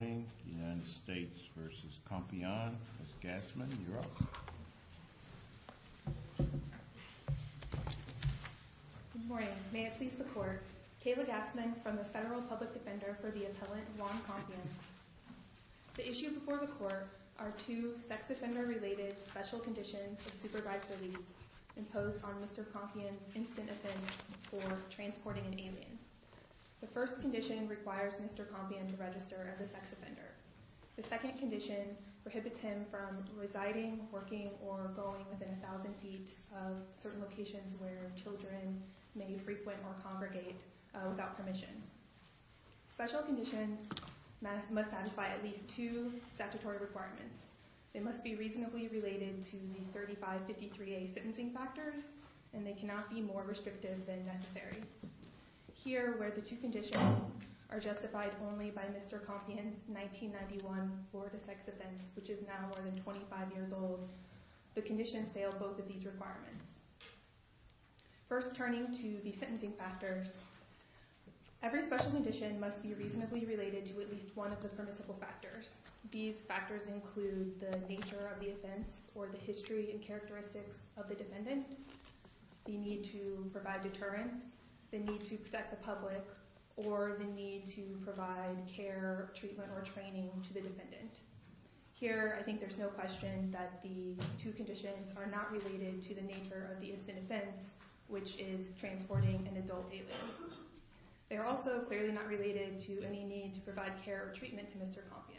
Good morning. May it please the court, Kayla Gassman from the Federal Public Defender for the Appellant Juan Compian. The issue before the court are two sex offender related special conditions of supervised release imposed on Mr. Compian's instant offense for transporting an alien. The first condition requires Mr. Compian to register as a sex offender. The second condition prohibits him from residing, working, or going within 1,000 feet of certain locations where children may frequent or congregate without permission. Special conditions must satisfy at least two statutory requirements. They must be reasonably related to the 3553A sentencing factors, and they cannot be more restrictive than necessary. Here, where the two conditions are justified only by Mr. Compian's 1991 Florida sex offense, which is now more than 25 years old, the conditions fail both of these requirements. First, turning to the sentencing factors, every special condition must be reasonably related to at least one of the permissible factors. These factors include the nature of the offense or the history and characteristics of the defendant, the need to provide deterrence, the need to protect the public, or the need to provide care, treatment, or training to the defendant. Here, I think there's no question that the two conditions are not related to the nature of the instant offense, which is transporting an adult alien. They're also clearly not related to any need to provide care or treatment to Mr. Compian.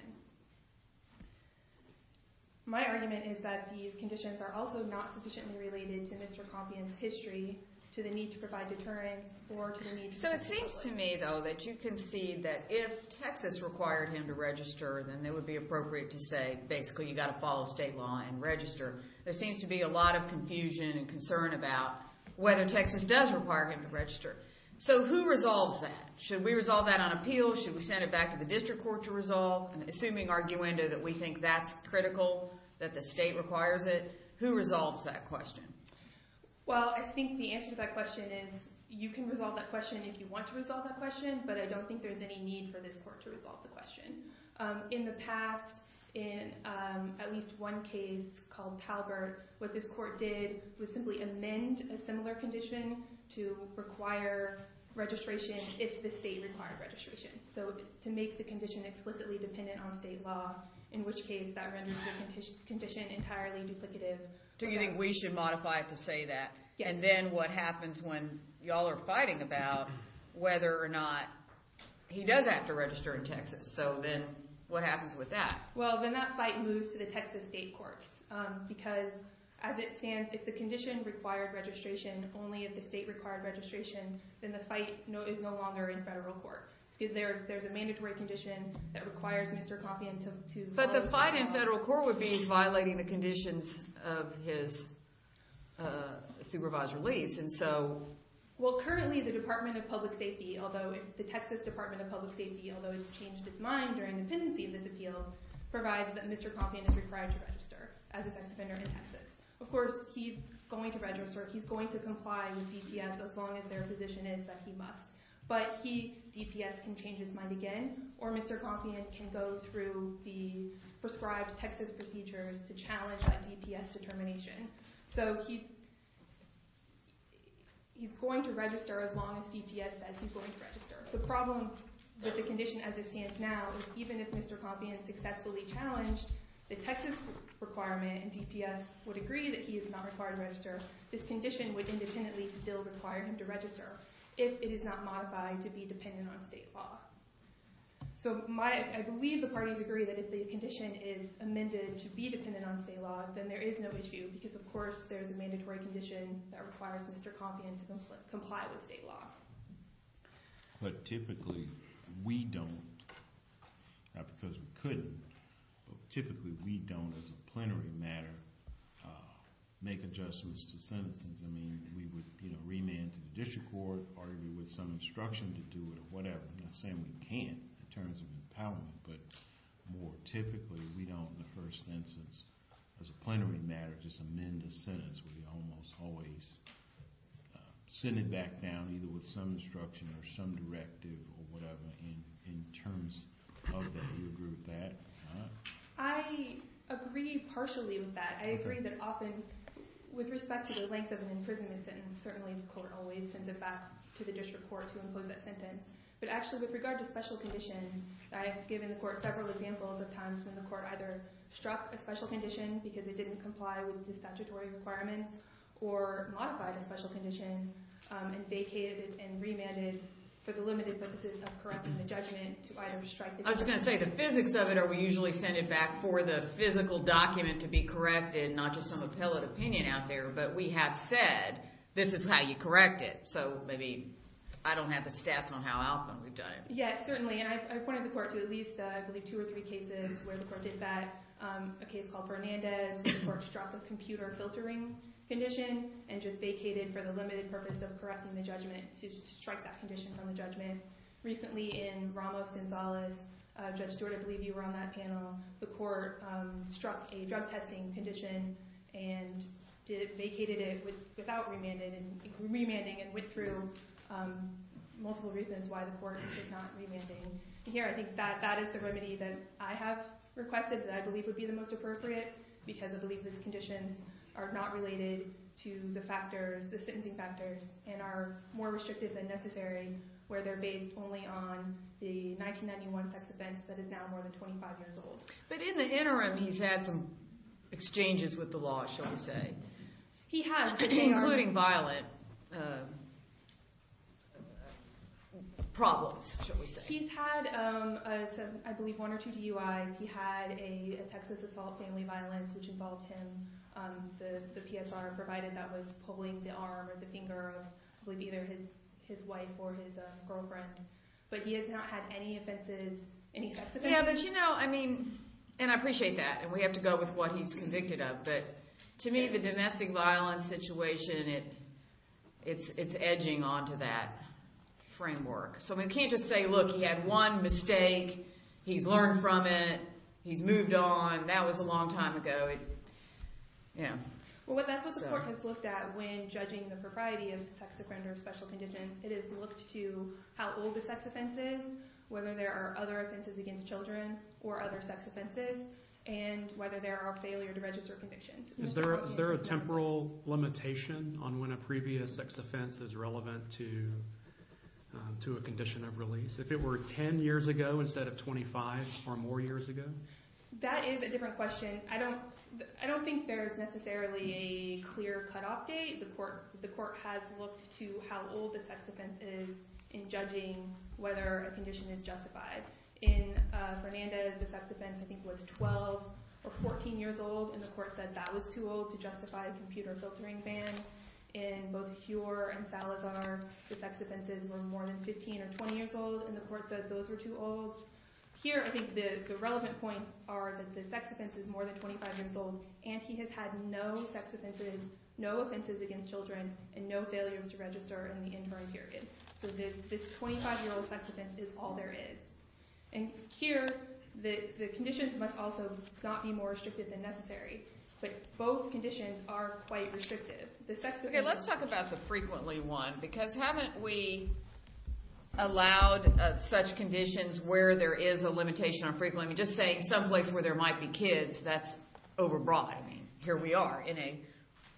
My argument is that these conditions are also not sufficiently related to Mr. Compian's history, to the need to provide deterrence, or to the need to protect the public. So it seems to me, though, that you can see that if Texas required him to register, then it would be appropriate to say, basically, you've got to follow state law and register. There seems to be a lot of confusion and concern about whether Texas does require him to register. So who resolves that? Should we resolve that on appeal? Should we send it back to the district court to resolve? Assuming, arguendo, that we think that's critical, that the state requires it, who resolves that question? Well, I think the answer to that question is you can resolve that question if you want to resolve that question, but I don't think there's any need for this court to resolve the question. In the past, in at least one case called Talbert, what this court did was simply amend a similar condition to require registration if the state required registration. So to make the condition explicitly dependent on state law, in which case that renders the condition entirely duplicative. Do you think we should modify it to say that? Yes. And then what happens when y'all are fighting about whether or not he does have to register in Texas? So then what happens with that? Well, then that fight moves to the Texas state courts. Because as it stands, if the condition required registration, only if the state required registration, then the fight is no longer in federal court. Because there's a mandatory condition that requires Mr. Compion to follow state law. The court would be violating the conditions of his supervised release. Well, currently, the Texas Department of Public Safety, although it's changed its mind during the pendency of this appeal, provides that Mr. Compion is required to register as a sex offender in Texas. Of course, he's going to register. He's going to comply with DPS as long as their position is that he must. But he, DPS, can change his mind again. Or Mr. Compion can go through the prescribed Texas procedures to challenge that DPS determination. So he's going to register as long as DPS says he's going to register. The problem with the condition as it stands now is even if Mr. Compion successfully challenged the Texas requirement and DPS would agree that he is not required to register, this condition would independently still require him to register. If it is not modified to be dependent on state law. So I believe the parties agree that if the condition is amended to be dependent on state law, then there is no issue. Because, of course, there's a mandatory condition that requires Mr. Compion to comply with state law. But typically, we don't. Not because we couldn't. But typically, we don't, as a plenary matter, make adjustments to sentences. I mean, we would remand to the district court, argue with some instruction to do it, or whatever. I'm not saying we can't in terms of empowerment. But more typically, we don't, in the first instance, as a plenary matter, just amend a sentence. We almost always sit it back down, either with some instruction or some directive or whatever, in terms of that. Do you agree with that? I agree partially with that. I agree that often, with respect to the length of an imprisonment sentence, certainly the court always sends it back to the district court to impose that sentence. But actually, with regard to special conditions, I have given the court several examples of times when the court either struck a special condition, because it didn't comply with the statutory requirements, or modified a special condition, and vacated it and remanded for the limited purposes of correcting the judgment to item to strike the condition. I was going to say, the physics of it are we usually send it back for the physical document to be corrected, not just some appellate opinion out there. But we have said, this is how you correct it. So maybe I don't have the stats on how often we've done it. Yes, certainly. And I've pointed the court to at least, I believe, two or three cases where the court did that. A case called Fernandez, where the court struck a computer filtering condition, and just vacated for the limited purpose of correcting the judgment to strike that condition from the judgment. Recently, in Ramos Gonzalez, Judge Stewart, I believe you were on that panel, the court struck a drug testing condition, and vacated it without remanding, and went through multiple reasons why the court is not remanding. Here, I think that is the remedy that I have requested, that I believe would be the most appropriate, because I believe these conditions are not related to the factors, the sentencing factors, and are more restrictive than necessary, where they're based only on the 1991 sex events, that is now more than 25 years old. But in the interim, he's had some exchanges with the law, shall we say. He has. Including violent problems, shall we say. He's had, I believe, one or two DUIs. He had a Texas assault family violence, which involved him, the PSR provided that was pulling the arm or the finger of, I believe, either his wife or his girlfriend. But he has not had any offenses, any sex offenses. Yeah, but you know, I mean, and I appreciate that, and we have to go with what he's convicted of, but to me, the domestic violence situation, it's edging onto that framework. So we can't just say, look, he had one mistake, he's learned from it, he's moved on, that was a long time ago. Well, that's what the court has looked at when judging the propriety of sex offender special conditions. It has looked to how old the sex offense is, whether there are other offenses against children or other sex offenses, and whether there are failure to register convictions. Is there a temporal limitation on when a previous sex offense is relevant to a condition of release? If it were 10 years ago instead of 25 or more years ago? That is a different question. I don't think there is necessarily a clear-cut update. The court has looked to how old the sex offense is in judging whether a condition is justified. In Fernandez, the sex offense, I think, was 12 or 14 years old, and the court said that was too old to justify a computer filtering ban. In both Huor and Salazar, the sex offenses were more than 15 or 20 years old, and the court said those were too old. Here, I think the relevant points are that the sex offense is more than 25 years old, and he has had no sex offenses, no offenses against children, and no failures to register in the interim period. So this 25-year-old sex offense is all there is. Here, the conditions must also not be more restrictive than necessary, but both conditions are quite restrictive. Let's talk about the frequently one, because haven't we allowed such conditions where there is a limitation on frequently? Just saying someplace where there might be kids, that's overbroad. Here we are in a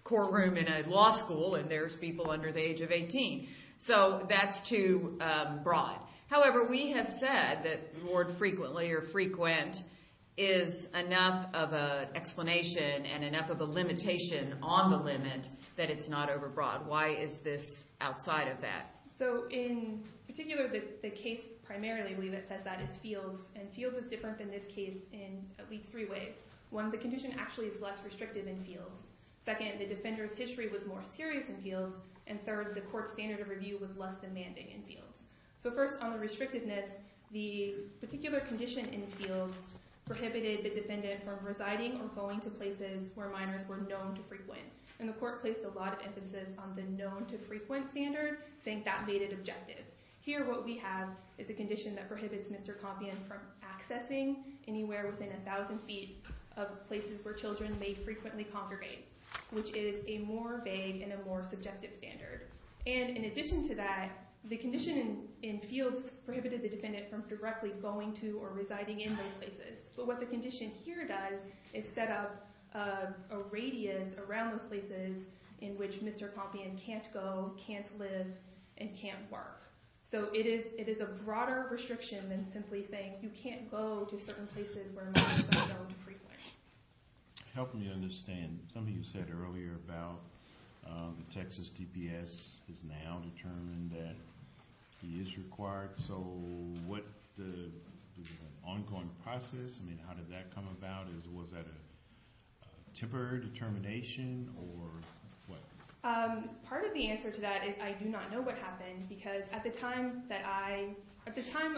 courtroom in a law school, and there's people under the age of 18. So that's too broad. However, we have said that the word frequently or frequent is enough of an explanation and enough of a limitation on the limit that it's not overbroad. Why is this outside of that? So in particular, the case primarily that says that is Fields, and Fields is different than this case in at least three ways. One, the condition actually is less restrictive in Fields. Second, the defender's history was more serious in Fields. And third, the court's standard of review was less demanding in Fields. So first, on the restrictiveness, the particular condition in Fields prohibited the defendant from residing or going to places where minors were known to frequent. And the court placed a lot of emphasis on the known to frequent standard, saying that made it objective. Here, what we have is a condition that prohibits Mr. Compion from accessing anywhere within 1,000 feet of places where children may frequently congregate, which is a more vague and a more subjective standard. And in addition to that, the condition in Fields prohibited the defendant from directly going to or residing in those places. But what the condition here does is set up a radius around those places in which Mr. Compion can't go, can't live, and can't work. So it is a broader restriction than simply saying you can't go to certain places where minors are known to frequently. It helped me understand something you said earlier about the Texas DPS is now determined that he is required. So what the ongoing process, I mean, how did that come about? Was that a temporary determination or what? Part of the answer to that is I do not know what happened. Because at the time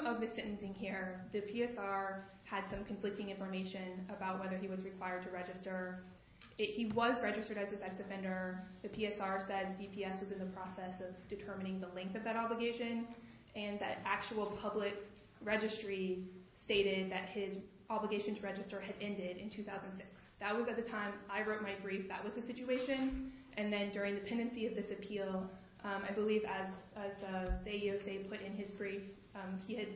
of the sentencing here, the PSR had some conflicting information about whether he was required to register. He was registered as a sex offender. The PSR said DPS was in the process of determining the length of that obligation. And that actual public registry stated that his obligation to register had ended in 2006. That was at the time I wrote my brief. That was the situation. And then during the pendency of this appeal, I believe as the AEOC put in his brief, he had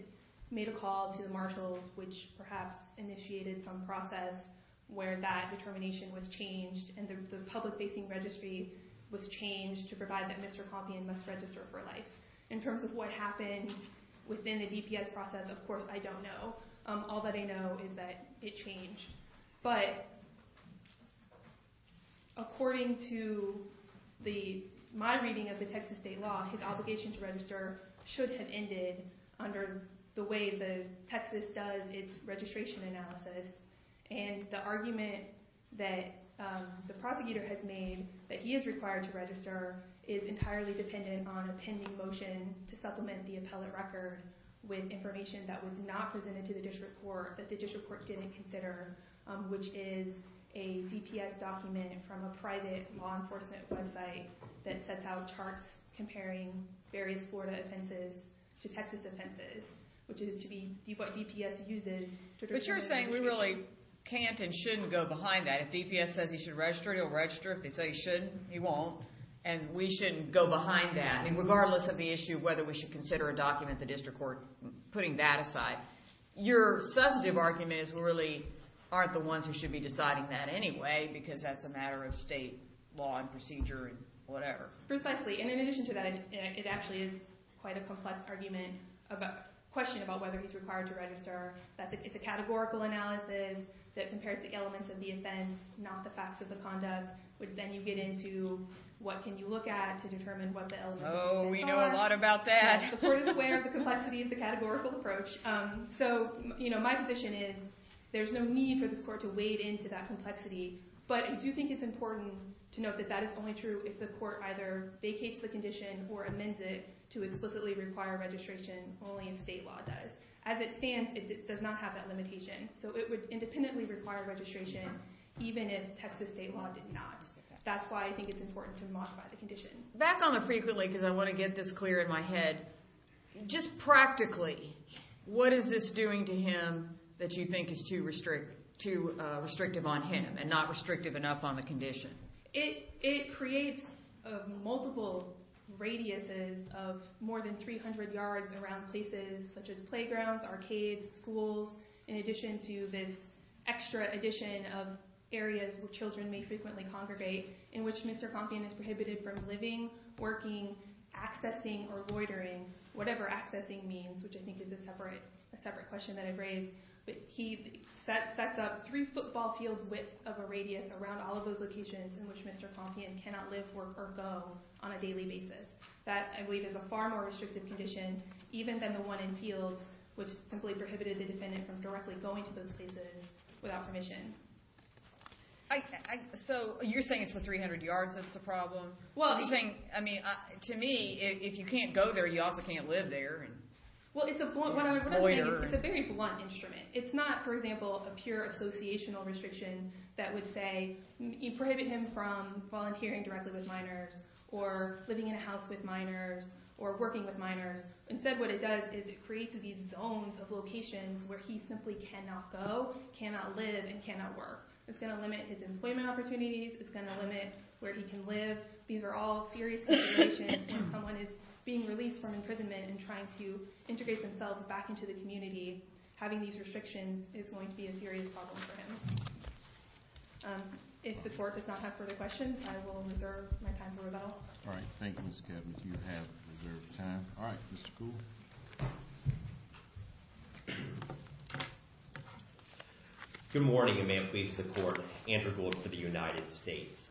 made a call to the marshals, which perhaps initiated some process where that determination was changed. And the public facing registry was changed to provide that Mr. Compion must register for life. In terms of what happened within the DPS process, of course, I don't know. All that I know is that it changed. But according to my reading of the Texas state law, his obligation to register should have ended under the way that Texas does its registration analysis. And the argument that the prosecutor has made that he is required to register is entirely dependent on a pending motion to supplement the appellate record with information that was not presented to the district court, that the district court didn't consider, which is a DPS document from a private law enforcement website that sets out charts comparing various Florida offenses to Texas offenses, which is to be what DPS uses. But you're saying we really can't and shouldn't go behind that. If DPS says he should register, he'll register. If they say he shouldn't, he won't. And we shouldn't go behind that. Regardless of the issue of whether we should consider a document at the district court, putting that aside, your substantive argument is we really aren't the ones who should be deciding that anyway, because that's a matter of state law and procedure and whatever. Precisely. And in addition to that, it actually is quite a complex question about whether he's required to register. It's a categorical analysis that compares the elements of the offense, not the facts of the conduct. But then you get into what can you look at to determine what the elements of the offense are. Oh, we know a lot about that. The court is aware of the complexity of the categorical approach. So my position is there's no need for this court to wade into that complexity. But I do think it's important to note that that is only true if the court either vacates the condition or amends it to explicitly require registration only if state law does. As it stands, it does not have that limitation. So it would independently require registration even if Texas state law did not. That's why I think it's important to modify the condition. Back on the frequently, because I want to get this clear in my head, just practically, what is this doing to him that you think is too restrictive on him and not restrictive enough on the condition? It creates multiple radiuses of more than 300 yards around places such as playgrounds, arcades, schools. In addition to this extra addition of areas where children may frequently congregate in which Mr. Compion is prohibited from living, working, accessing, or loitering, whatever accessing means, which I think is a separate question that I've raised. He sets up three football fields width of a radius around all of those locations in which Mr. Compion cannot live, work, or go on a daily basis. That, I believe, is a far more restrictive condition even than the one in fields which simply prohibited the defendant from directly going to those places without permission. So you're saying it's the 300 yards that's the problem? To me, if you can't go there, you also can't live there and loiter. It's a very blunt instrument. It's not, for example, a pure associational restriction that would say you prohibit him from volunteering directly with minors or living in a house with minors or working with minors. Instead, what it does is it creates these zones of locations where he simply cannot go, cannot live, and cannot work. It's going to limit his employment opportunities. It's going to limit where he can live. These are all serious situations when someone is being released from imprisonment and trying to integrate themselves back into the community. Having these restrictions is going to be a serious problem for him. If the court does not have further questions, I will reserve my time for rebuttal. All right, thank you, Ms. Kavner. You have reserved time. All right, Mr. Kuhl. Good morning, and may it please the court. Andrew Gould for the United States.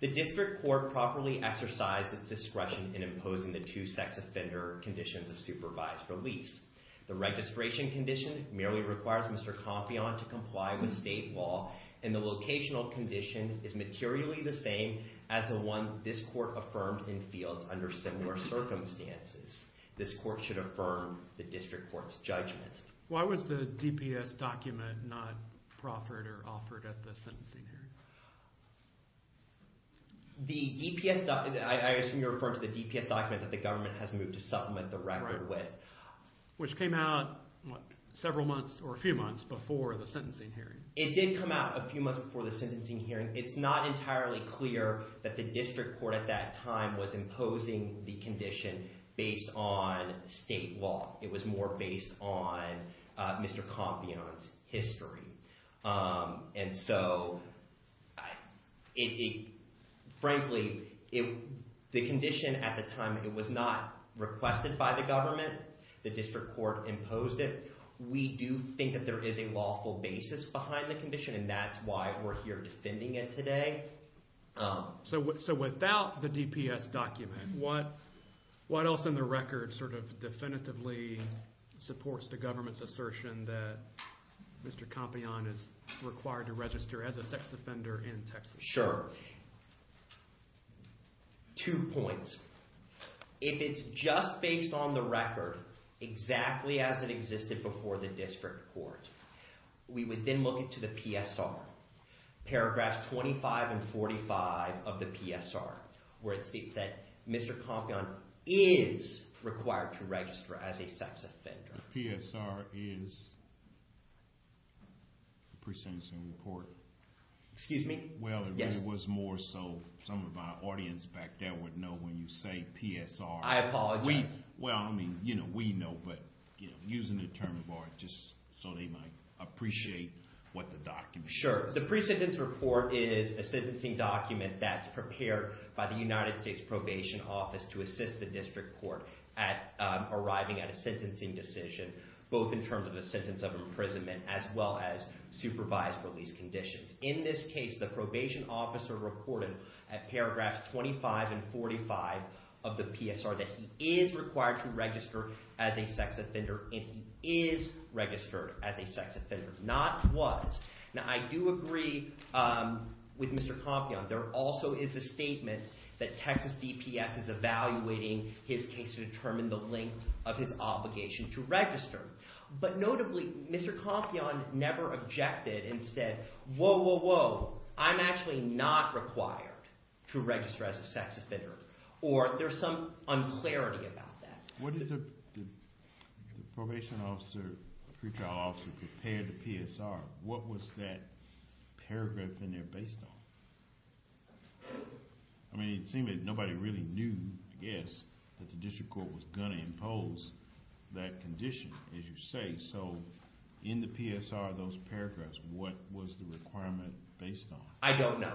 The district court properly exercised its discretion in imposing the two sex offender conditions of supervised release. The registration condition merely requires Mr. Compion to comply with state law, and the locational condition is materially the same as the one this court affirmed in fields under similar circumstances. This court should affirm the district court's judgment. Why was the DPS document not proffered or offered at the sentencing hearing? I assume you're referring to the DPS document that the government has moved to supplement the record with. Which came out several months or a few months before the sentencing hearing. It did come out a few months before the sentencing hearing. It's not entirely clear that the district court at that time was imposing the condition based on state law. It was more based on Mr. Compion's history. Frankly, the condition at the time, it was not requested by the government. The district court imposed it. We do think that there is a lawful basis behind the condition, and that's why we're here defending it today. So without the DPS document, what else in the record definitively supports the government's assertion that Mr. Compion is required to register as a sex offender in Texas? Sure. Two points. If it's just based on the record, exactly as it existed before the district court, we would then look into the PSR. Paragraphs 25 and 45 of the PSR, where it states that Mr. Compion is required to register as a sex offender. The PSR is the pre-sentencing report. Excuse me? Well, it was more so some of our audience back there would know when you say PSR. I apologize. Well, I mean, you know, we know, but using the term of art just so they might appreciate what the document says. Sure. The pre-sentence report is a sentencing document that's prepared by the United States Probation Office to assist the district court at arriving at a sentencing decision, both in terms of a sentence of imprisonment as well as supervised release conditions. In this case, the probation officer reported at paragraphs 25 and 45 of the PSR that he is required to register as a sex offender and he is registered as a sex offender, not was. Now, I do agree with Mr. Compion. There also is a statement that Texas DPS is evaluating his case to determine the length of his obligation to register. But notably, Mr. Compion never objected and said, whoa, whoa, whoa, I'm actually not required to register as a sex offender, or there's some unclarity about that. What did the probation officer, pretrial officer, prepare the PSR? What was that paragraph in there based on? I mean, it seemed that nobody really knew, I guess, that the district court was going to impose that condition, as you say. So in the PSR, those paragraphs, what was the requirement based on? I don't know.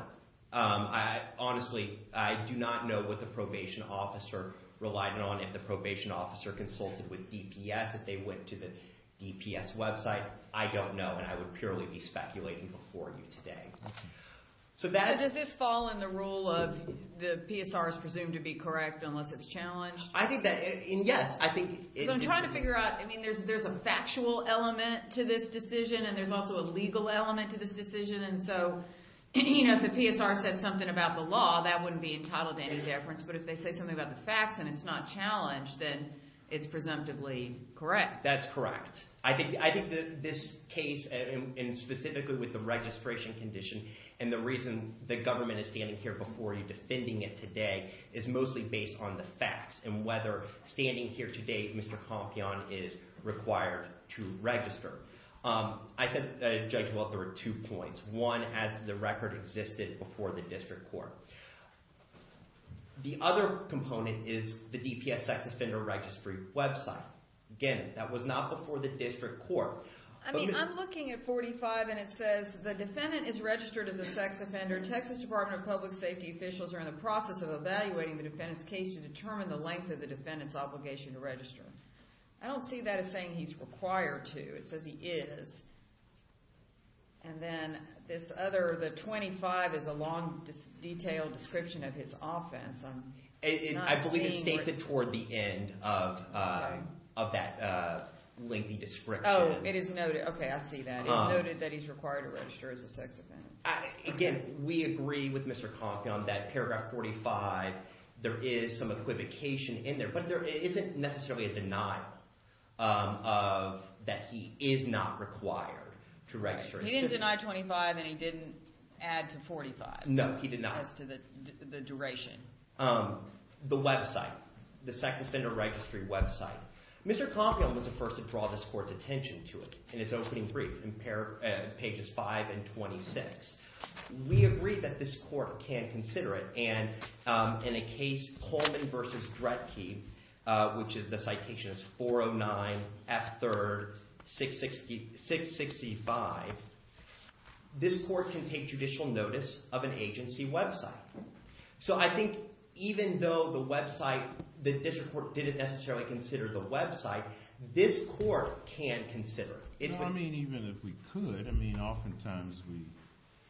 Honestly, I do not know what the probation officer relied on. If the probation officer consulted with DPS, if they went to the DPS website, I don't know, and I would purely be speculating before you today. Does this fall in the rule of the PSR is presumed to be correct unless it's challenged? I think that, yes. I'm trying to figure out. I mean, there's a factual element to this decision, and there's also a legal element to this decision. And so if the PSR said something about the law, that wouldn't be entitled to any deference. But if they say something about the facts and it's not challenged, then it's presumptively correct. That's correct. I think this case, and specifically with the registration condition and the reason the government is standing here before you defending it today is mostly based on the facts and whether standing here today Mr. Compion is required to register. I said, Judge, well, there were two points. One, as the record existed before the district court. The other component is the DPS sex offender registry website. Again, that was not before the district court. I mean, I'm looking at 45, and it says the defendant is registered as a sex offender. Texas Department of Public Safety officials are in the process of evaluating the defendant's case to determine the length of the defendant's obligation to register. I don't see that as saying he's required to. It says he is. And then this other, the 25 is a long, detailed description of his offense. I believe it states it toward the end of that lengthy description. Oh, it is noted. Okay, I see that. It noted that he's required to register as a sex offender. Again, we agree with Mr. Compion that paragraph 45, there is some equivocation in there. But there isn't necessarily a denial that he is not required to register. He didn't deny 25, and he didn't add to 45. No, he did not. As to the duration. The website, the sex offender registry website. Mr. Compion was the first to draw this court's attention to it in his opening brief in pages 5 and 26. We agree that this court can consider it. And in a case, Coleman v. Dredge, which the citation is 409 F3rd 665, this court can take judicial notice of an agency website. So I think even though the website, the district court didn't necessarily consider the website, this court can consider it. I mean, even if we could, I mean, oftentimes we,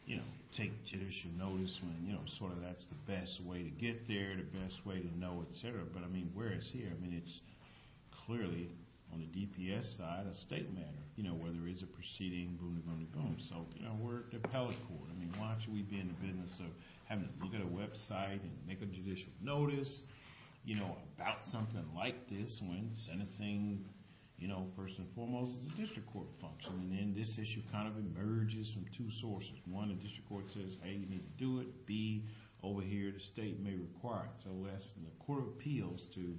you know, take judicial notice when, you know, sort of that's the best way to get there, the best way to know, etc. But, I mean, whereas here, I mean, it's clearly, on the DPS side, a state matter. You know, whether it's a proceeding, boom-de-boom-de-boom. So, you know, we're the appellate court. I mean, why should we be in the business of having to look at a website and make a judicial notice, you know, about something like this when sentencing, you know, first and foremost, is a district court function. And then this issue kind of emerges from two sources. One, the district court says, A, you need to do it. B, over here, the state may require it. So we're asking the Court of Appeals to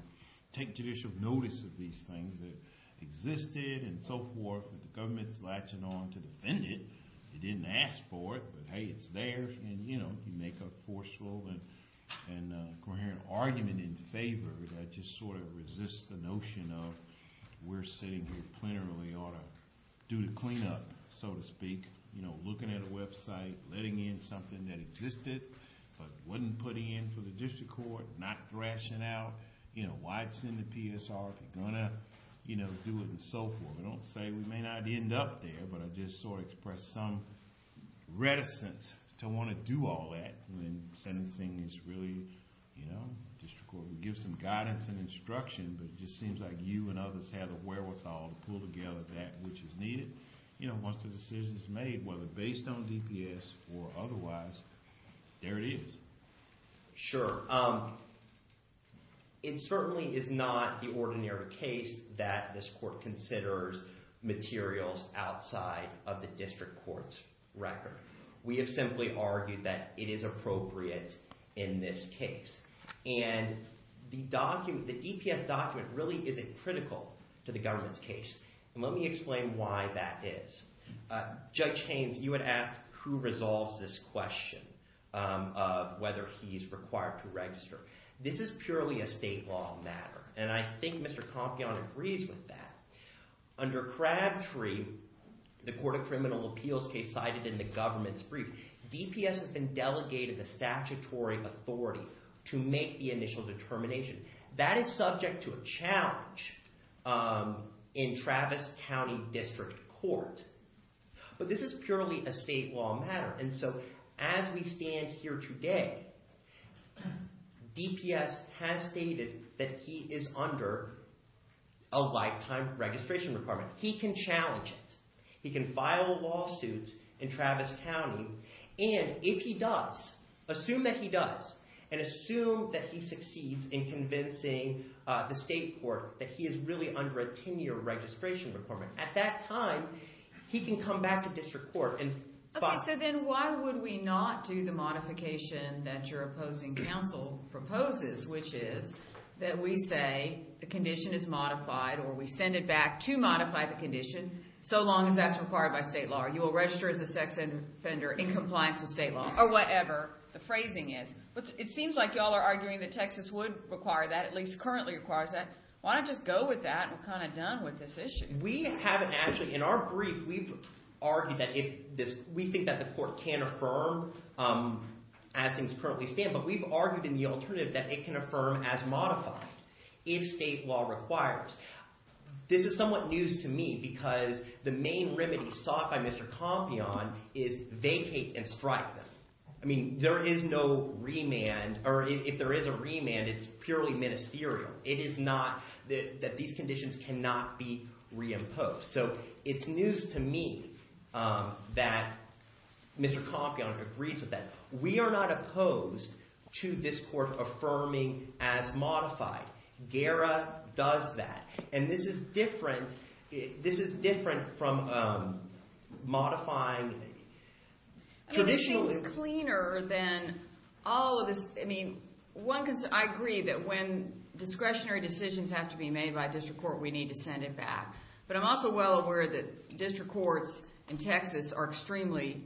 take judicial notice of these things that existed and so forth, but the government's latching on to defend it. It didn't ask for it, but, hey, it's there. I just sort of resist the notion of we're sitting here plenarily ought to do the cleanup, so to speak. You know, looking at a website, letting in something that existed, but wasn't put in for the district court, not thrashing out, you know, why it's in the PSR if you're going to, you know, do it and so forth. I don't say we may not end up there, but I just sort of express some reticence to want to do all that when sentencing is really, you know, district court. We give some guidance and instruction, but it just seems like you and others have the wherewithal to pull together that which is needed, you know, once the decision is made, whether based on DPS or otherwise. There it is. Sure. It certainly is not the ordinary case that this court considers materials outside of the district court's record. We have simply argued that it is appropriate in this case. And the DPS document really isn't critical to the government's case. And let me explain why that is. Judge Haynes, you had asked who resolves this question of whether he's required to register. This is purely a state law matter, and I think Mr. Compion agrees with that. Under Crabtree, the court of criminal appeals case cited in the government's brief, DPS has been delegated the statutory authority to make the initial determination. That is subject to a challenge in Travis County District Court. But this is purely a state law matter, and so as we stand here today, DPS has stated that he is under a lifetime registration requirement. He can challenge it. He can file lawsuits in Travis County. And if he does, assume that he does, and assume that he succeeds in convincing the state court that he is really under a 10-year registration requirement. At that time, he can come back to district court and file. Okay, so then why would we not do the modification that your opposing counsel proposes, which is that we say the condition is modified or we send it back to modify the condition so long as that's required by state law. You will register as a sex offender in compliance with state law or whatever the phrasing is. But it seems like you all are arguing that Texas would require that, at least currently requires that. Why not just go with that and we're kind of done with this issue? We have actually in our brief, we've argued that if this – we think that the court can affirm as things currently stand, but we've argued in the alternative that it can affirm as modified if state law requires. This is somewhat news to me because the main remedy sought by Mr. Compion is vacate and strike them. I mean, there is no remand, or if there is a remand, it's purely ministerial. It is not that these conditions cannot be reimposed. So it's news to me that Mr. Compion agrees with that. We are not opposed to this court affirming as modified. GARA does that. And this is different from modifying traditional – It seems cleaner than all of this. I mean, one – I agree that when discretionary decisions have to be made by district court, we need to send it back. But I'm also well aware that district courts in Texas are extremely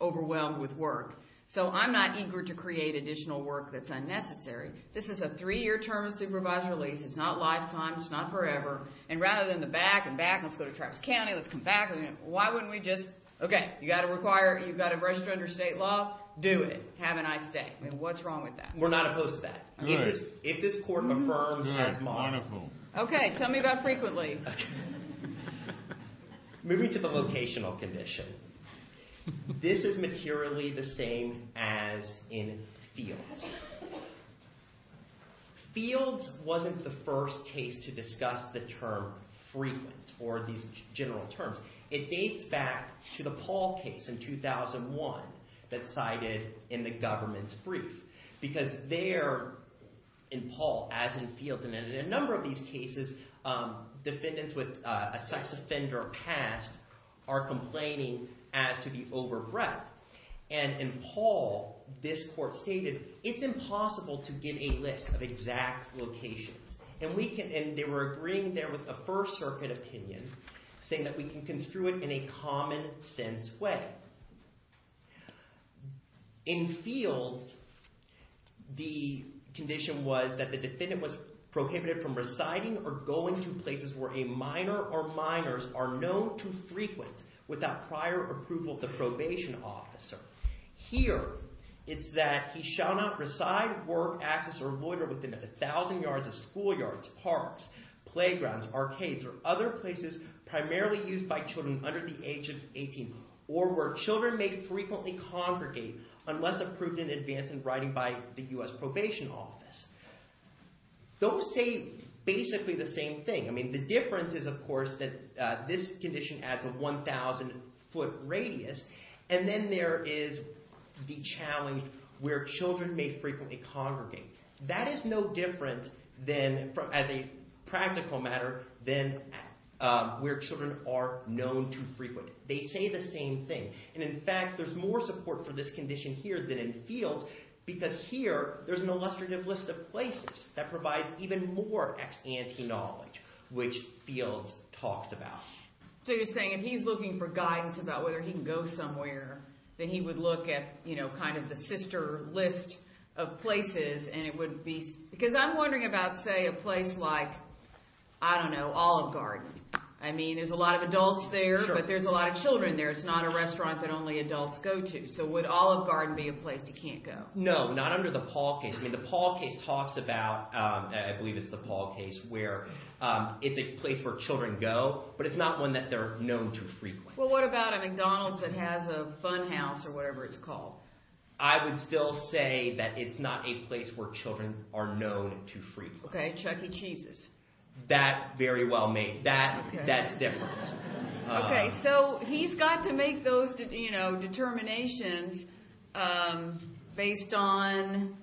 overwhelmed with work. So I'm not eager to create additional work that's unnecessary. This is a three-year term of supervised release. It's not lifetime. It's not forever. And rather than the back and back, let's go to Travis County, let's come back. Why wouldn't we just – okay, you've got to require – you've got to register under state law. Do it. Have a nice day. I mean, what's wrong with that? We're not opposed to that. Good. If this court affirms as modified – Good. Wonderful. Okay. Tell me about frequently. Moving to the locational condition. This is materially the same as in fields. Fields wasn't the first case to discuss the term frequent or these general terms. It dates back to the Paul case in 2001 that's cited in the government's brief because there in Paul, as in fields, and in a number of these cases, defendants with a sex offender past are complaining as to the over-breath. And in Paul, this court stated it's impossible to give a list of exact locations. And we can – and they were agreeing there with a First Circuit opinion saying that we can construe it in a common-sense way. In fields, the condition was that the defendant was prohibited from residing or going to places where a minor or minors are known to frequent without prior approval of the probation officer. Here it's that he shall not reside, work, access, or loiter within a thousand yards of schoolyards, parks, playgrounds, arcades, or other places primarily used by children under the age of 18 or where children may frequently congregate unless approved in advance in writing by the US Probation Office. Those say basically the same thing. I mean the difference is, of course, that this condition adds a 1,000-foot radius. And then there is the challenge where children may frequently congregate. That is no different than – as a practical matter than where children are known to frequent. They say the same thing. And, in fact, there's more support for this condition here than in fields because here there's an illustrative list of places that provides even more ex-ante knowledge, which fields talked about. So you're saying if he's looking for guidance about whether he can go somewhere, then he would look at kind of the sister list of places and it would be – because I'm wondering about, say, a place like, I don't know, Olive Garden. I mean there's a lot of adults there, but there's a lot of children there. It's not a restaurant that only adults go to. So would Olive Garden be a place he can't go? No, not under the Paul case. The Paul case talks about – I believe it's the Paul case where it's a place where children go, but it's not one that they're known to frequent. Well, what about a McDonald's that has a fun house or whatever it's called? I would still say that it's not a place where children are known to frequent. Okay, Chuck E. Cheese's. That very well may – that's different. Okay, so he's got to make those determinations based on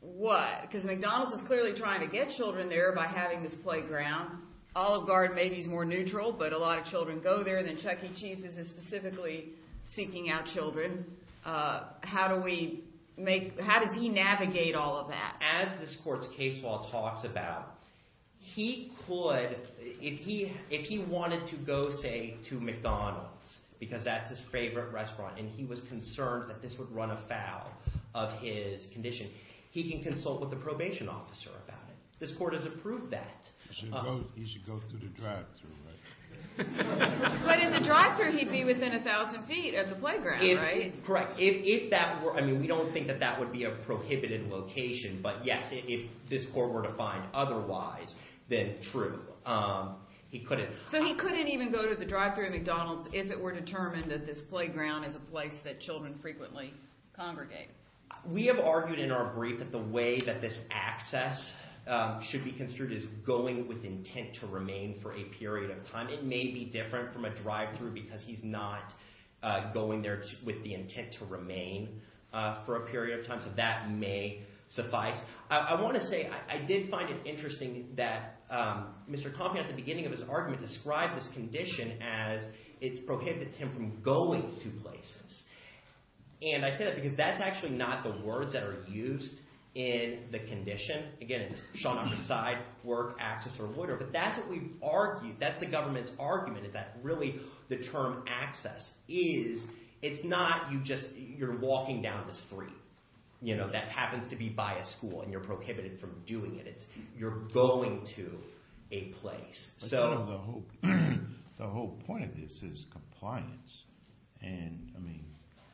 what? Because McDonald's is clearly trying to get children there by having this playground. Olive Garden maybe is more neutral, but a lot of children go there, and then Chuck E. Cheese's is specifically seeking out children. How do we make – how does he navigate all of that? As this court's case law talks about, he could – if he wanted to go, say, to McDonald's because that's his favorite restaurant and he was concerned that this would run afoul of his condition, he can consult with the probation officer about it. This court has approved that. He should go through the drive-thru, right? But in the drive-thru, he'd be within 1,000 feet of the playground, right? Correct. If that were – I mean we don't think that that would be a prohibited location, but yes, if this court were to find otherwise, then true. He couldn't. So he couldn't even go to the drive-thru at McDonald's if it were determined that this playground is a place that children frequently congregate. We have argued in our brief that the way that this access should be construed is going with intent to remain for a period of time. It may be different from a drive-thru because he's not going there with the intent to remain for a period of time, so that may suffice. I want to say I did find it interesting that Mr. Compey at the beginning of his argument described this condition as it prohibits him from going to places. And I say that because that's actually not the words that are used in the condition. Again, it's Sean on your side, work, access, or whatever. But that's what we've argued. That's the government's argument is that really the term access is – it's not you just – you're walking down the street. That happens to be by a school, and you're prohibited from doing it. You're going to a place. The whole point of this is compliance. And, I mean,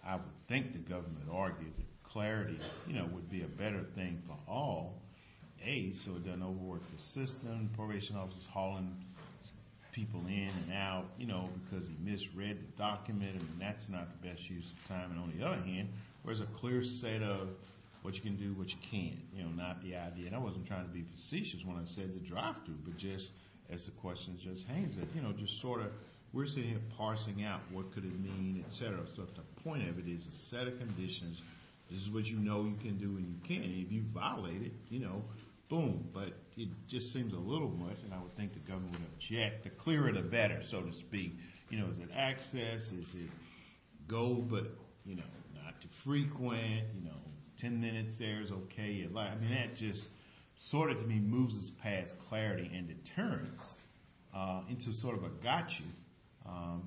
I would think the government argued that clarity would be a better thing for all. A, so it doesn't overwork the system, probation officers hauling people in and out because he misread the document. I mean, that's not the best use of time. And on the other hand, there's a clear set of what you can do, what you can't, not the idea. I mean, I wasn't trying to be facetious when I said the drive-thru, but just as the question just hangs there. You know, just sort of we're sitting here parsing out what could it mean, et cetera. So if the point of it is a set of conditions, this is what you know you can do and you can't. If you violate it, you know, boom. But it just seems a little much, and I would think the government would object. The clearer the better, so to speak. You know, is it access? Is it go but, you know, not too frequent? You know, 10 minutes there is okay. I mean, that just sort of to me moves us past clarity and deterrence into sort of a got you.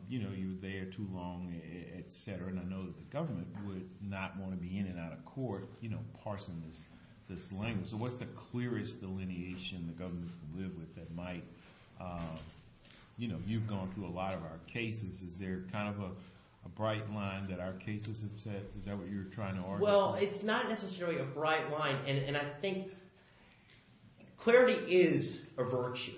You know, you were there too long, et cetera. And I know that the government would not want to be in and out of court, you know, parsing this language. So what's the clearest delineation the government can live with that might – you know, you've gone through a lot of our cases. Is there kind of a bright line that our cases have set? Is that what you were trying to argue? Well, it's not necessarily a bright line, and I think clarity is a virtue,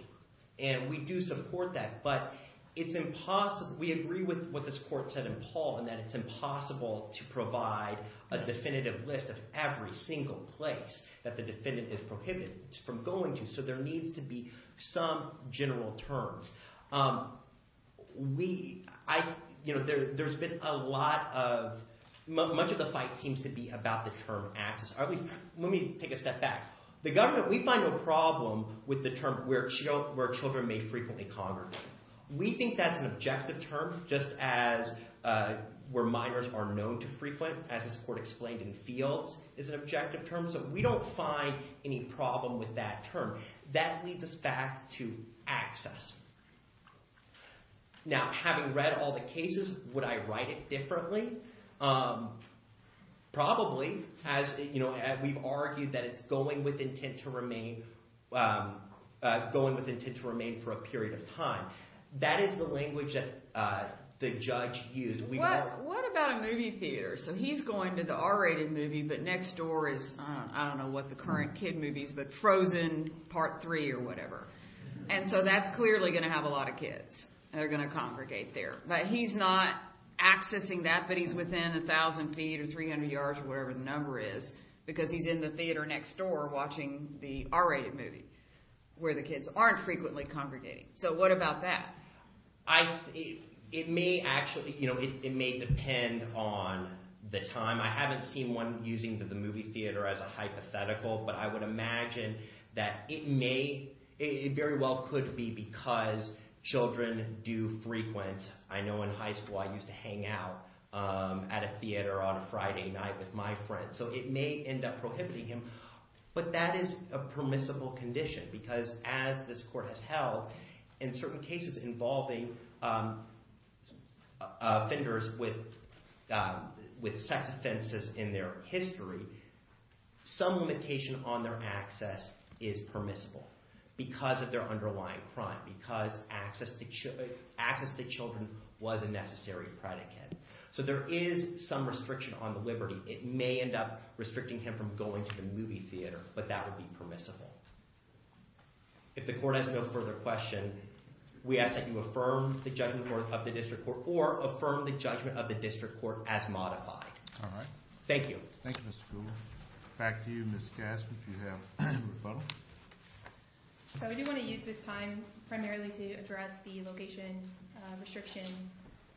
and we do support that. But it's impossible – we agree with what this court said in Paul in that it's impossible to provide a definitive list of every single place that the defendant is prohibited from going to. So there needs to be some general terms. We – you know, there's been a lot of – much of the fight seems to be about the term access. Or at least – let me take a step back. The government – we find no problem with the term where children may frequently congregate. We think that's an objective term just as where minors are known to frequent, as this court explained, in fields is an objective term. So we don't find any problem with that term. That leads us back to access. Now, having read all the cases, would I write it differently? Probably, as – you know, we've argued that it's going with intent to remain – going with intent to remain for a period of time. That is the language that the judge used. What about a movie theater? So he's going to the R-rated movie, but next door is – I don't know what the current kid movie is, but Frozen Part 3 or whatever. And so that's clearly going to have a lot of kids that are going to congregate there. But he's not accessing that, but he's within 1,000 feet or 300 yards or whatever the number is because he's in the theater next door watching the R-rated movie where the kids aren't frequently congregating. So what about that? It may actually – it may depend on the time. I haven't seen one using the movie theater as a hypothetical, but I would imagine that it may – it very well could be because children do frequent. I know in high school I used to hang out at a theater on a Friday night with my friends. So it may end up prohibiting him. But that is a permissible condition because as this court has held in certain cases involving offenders with sex offenses in their history, some limitation on their access is permissible because of their underlying crime, because access to children was a necessary predicate. So there is some restriction on the liberty. It may end up restricting him from going to the movie theater, but that would be permissible. If the court has no further question, we ask that you affirm the judgment of the district court or affirm the judgment of the district court as modified. All right. Thank you. Thank you, Mr. Gould. Back to you, Ms. Gaskin, if you have any rebuttal. So we do want to use this time primarily to address the location restriction.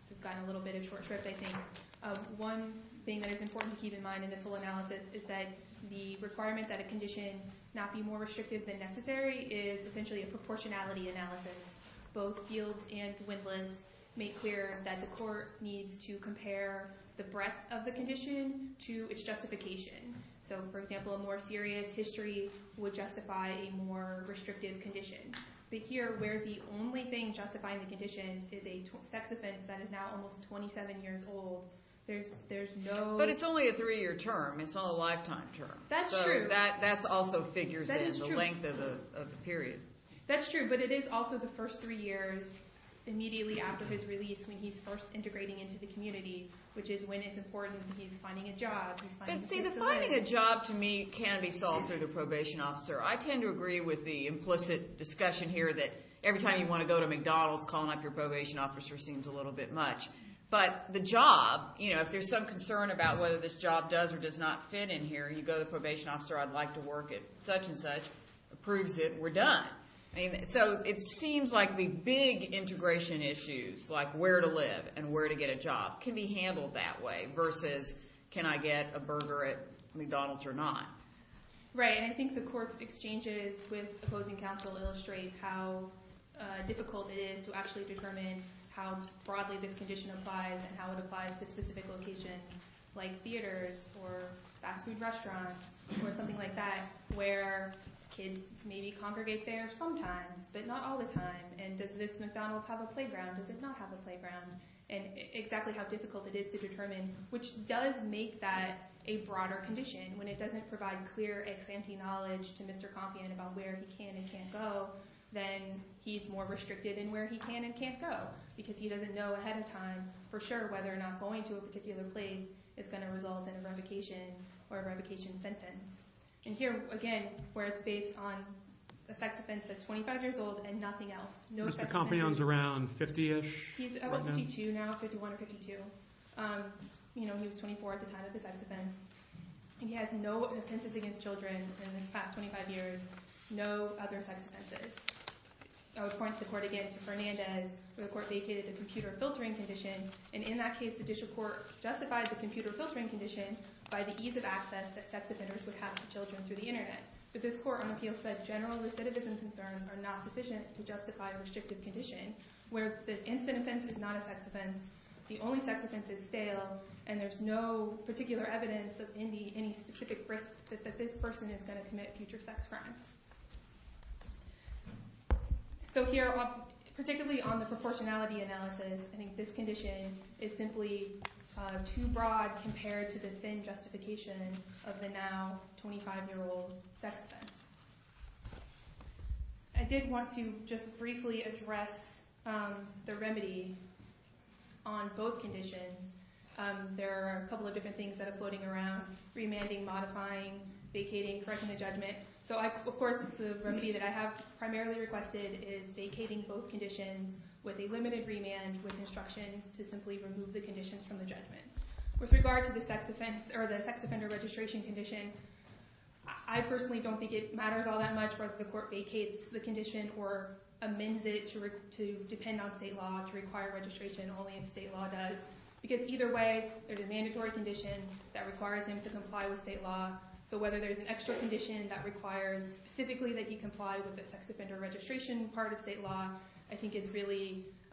This has gotten a little bit of a short trip I think. One thing that is important to keep in mind in this whole analysis is that the requirement that a condition not be more restrictive than necessary is essentially a proportionality analysis. Both fields and witnesses make clear that the court needs to compare the breadth of the condition to its justification. So, for example, a more serious history would justify a more restrictive condition. But here, where the only thing justifying the conditions is a sex offense that is now almost 27 years old, there's no- But it's only a three-year term. It's not a lifetime term. That's true. So that also figures in the length of the period. That's true. But it is also the first three years immediately after his release when he's first integrating into the community, which is when it's important that he's finding a job. But see, the finding a job to me can be solved through the probation officer. I tend to agree with the implicit discussion here that every time you want to go to McDonald's, calling up your probation officer seems a little bit much. But the job, if there's some concern about whether this job does or does not fit in here, you go to the probation officer. I'd like to work at such and such. Approves it. We're done. So it seems like the big integration issues, like where to live and where to get a job, can be handled that way versus can I get a burger at McDonald's or not. Right. And I think the court's exchanges with opposing counsel illustrate how difficult it is to actually determine how broadly this condition applies and how it applies to specific locations like theaters or fast food restaurants or something like that where kids maybe congregate there sometimes but not all the time. And does this McDonald's have a playground? Does it not have a playground? And exactly how difficult it is to determine, which does make that a broader condition. When it doesn't provide clear, ex-ante knowledge to Mr. Compion about where he can and can't go, then he's more restricted in where he can and can't go because he doesn't know ahead of time for sure whether or not going to a particular place is going to result in a revocation or a revocation sentence. And here, again, where it's based on a sex offense that's 25 years old and nothing else. Mr. Compion's around 50-ish? He's 52 now, 51 or 52. He was 24 at the time of his sex offense. And he has no offenses against children in the past 25 years, no other sex offenses. I would point the court again to Fernandez where the court vacated the computer filtering condition. And in that case, the district court justified the computer filtering condition by the ease of access that sex offenders would have to children through the internet. But this court on appeal said general recidivism concerns are not sufficient to justify a restrictive condition where the instant offense is not a sex offense, the only sex offense is stale, and there's no particular evidence of any specific risk that this person is going to commit future sex crimes. So here, particularly on the proportionality analysis, I think this condition is simply too broad compared to the thin justification of the now 25-year-old sex offense. I did want to just briefly address the remedy on both conditions. There are a couple of different things that are floating around, remanding, modifying, vacating, correcting the judgment. Of course, the remedy that I have primarily requested is vacating both conditions with a limited remand with instructions to simply remove the conditions from the judgment. With regard to the sex offender registration condition, I personally don't think it matters all that much whether the court vacates the condition or amends it to depend on state law to require registration only if state law does. Because either way, there's a mandatory condition that requires him to comply with state law. So whether there's an extra condition that requires specifically that he comply with the sex offender registration part of state law I think is really kind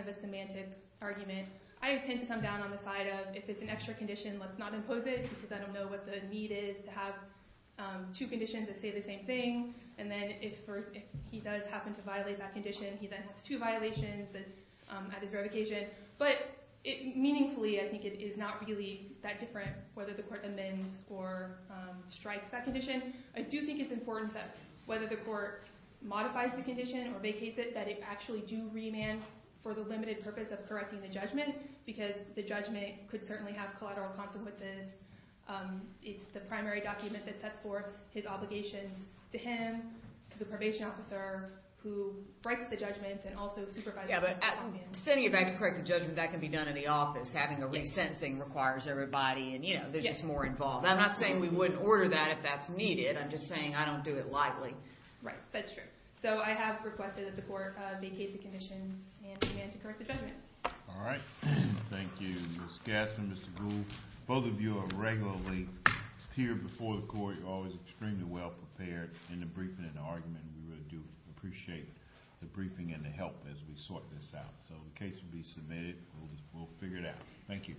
of a semantic argument. I tend to come down on the side of if it's an extra condition, let's not impose it because I don't know what the need is to have two conditions that say the same thing. And then if he does happen to violate that condition, he then has two violations at his revocation. But meaningfully, I think it is not really that different whether the court amends or strikes that condition. I do think it's important that whether the court modifies the condition or vacates it, that it actually do remand for the limited purpose of correcting the judgment because the judgment could certainly have collateral consequences. It's the primary document that sets forth his obligations to him, to the probation officer who writes the judgments, and also supervises. Yeah, but sending it back to correct the judgment, that can be done in the office. Having a resentencing requires everybody, and there's just more involved. I'm not saying we wouldn't order that if that's needed. I'm just saying I don't do it lightly. Right, that's true. So I have requested that the court vacate the conditions and amend to correct the judgment. All right. Thank you, Ms. Gassman, Mr. Gould. Both of you are regularly here before the court. You're always extremely well prepared in the briefing and argument. We really do appreciate the briefing and the help as we sort this out. So the case will be submitted. We'll figure it out. Thank you.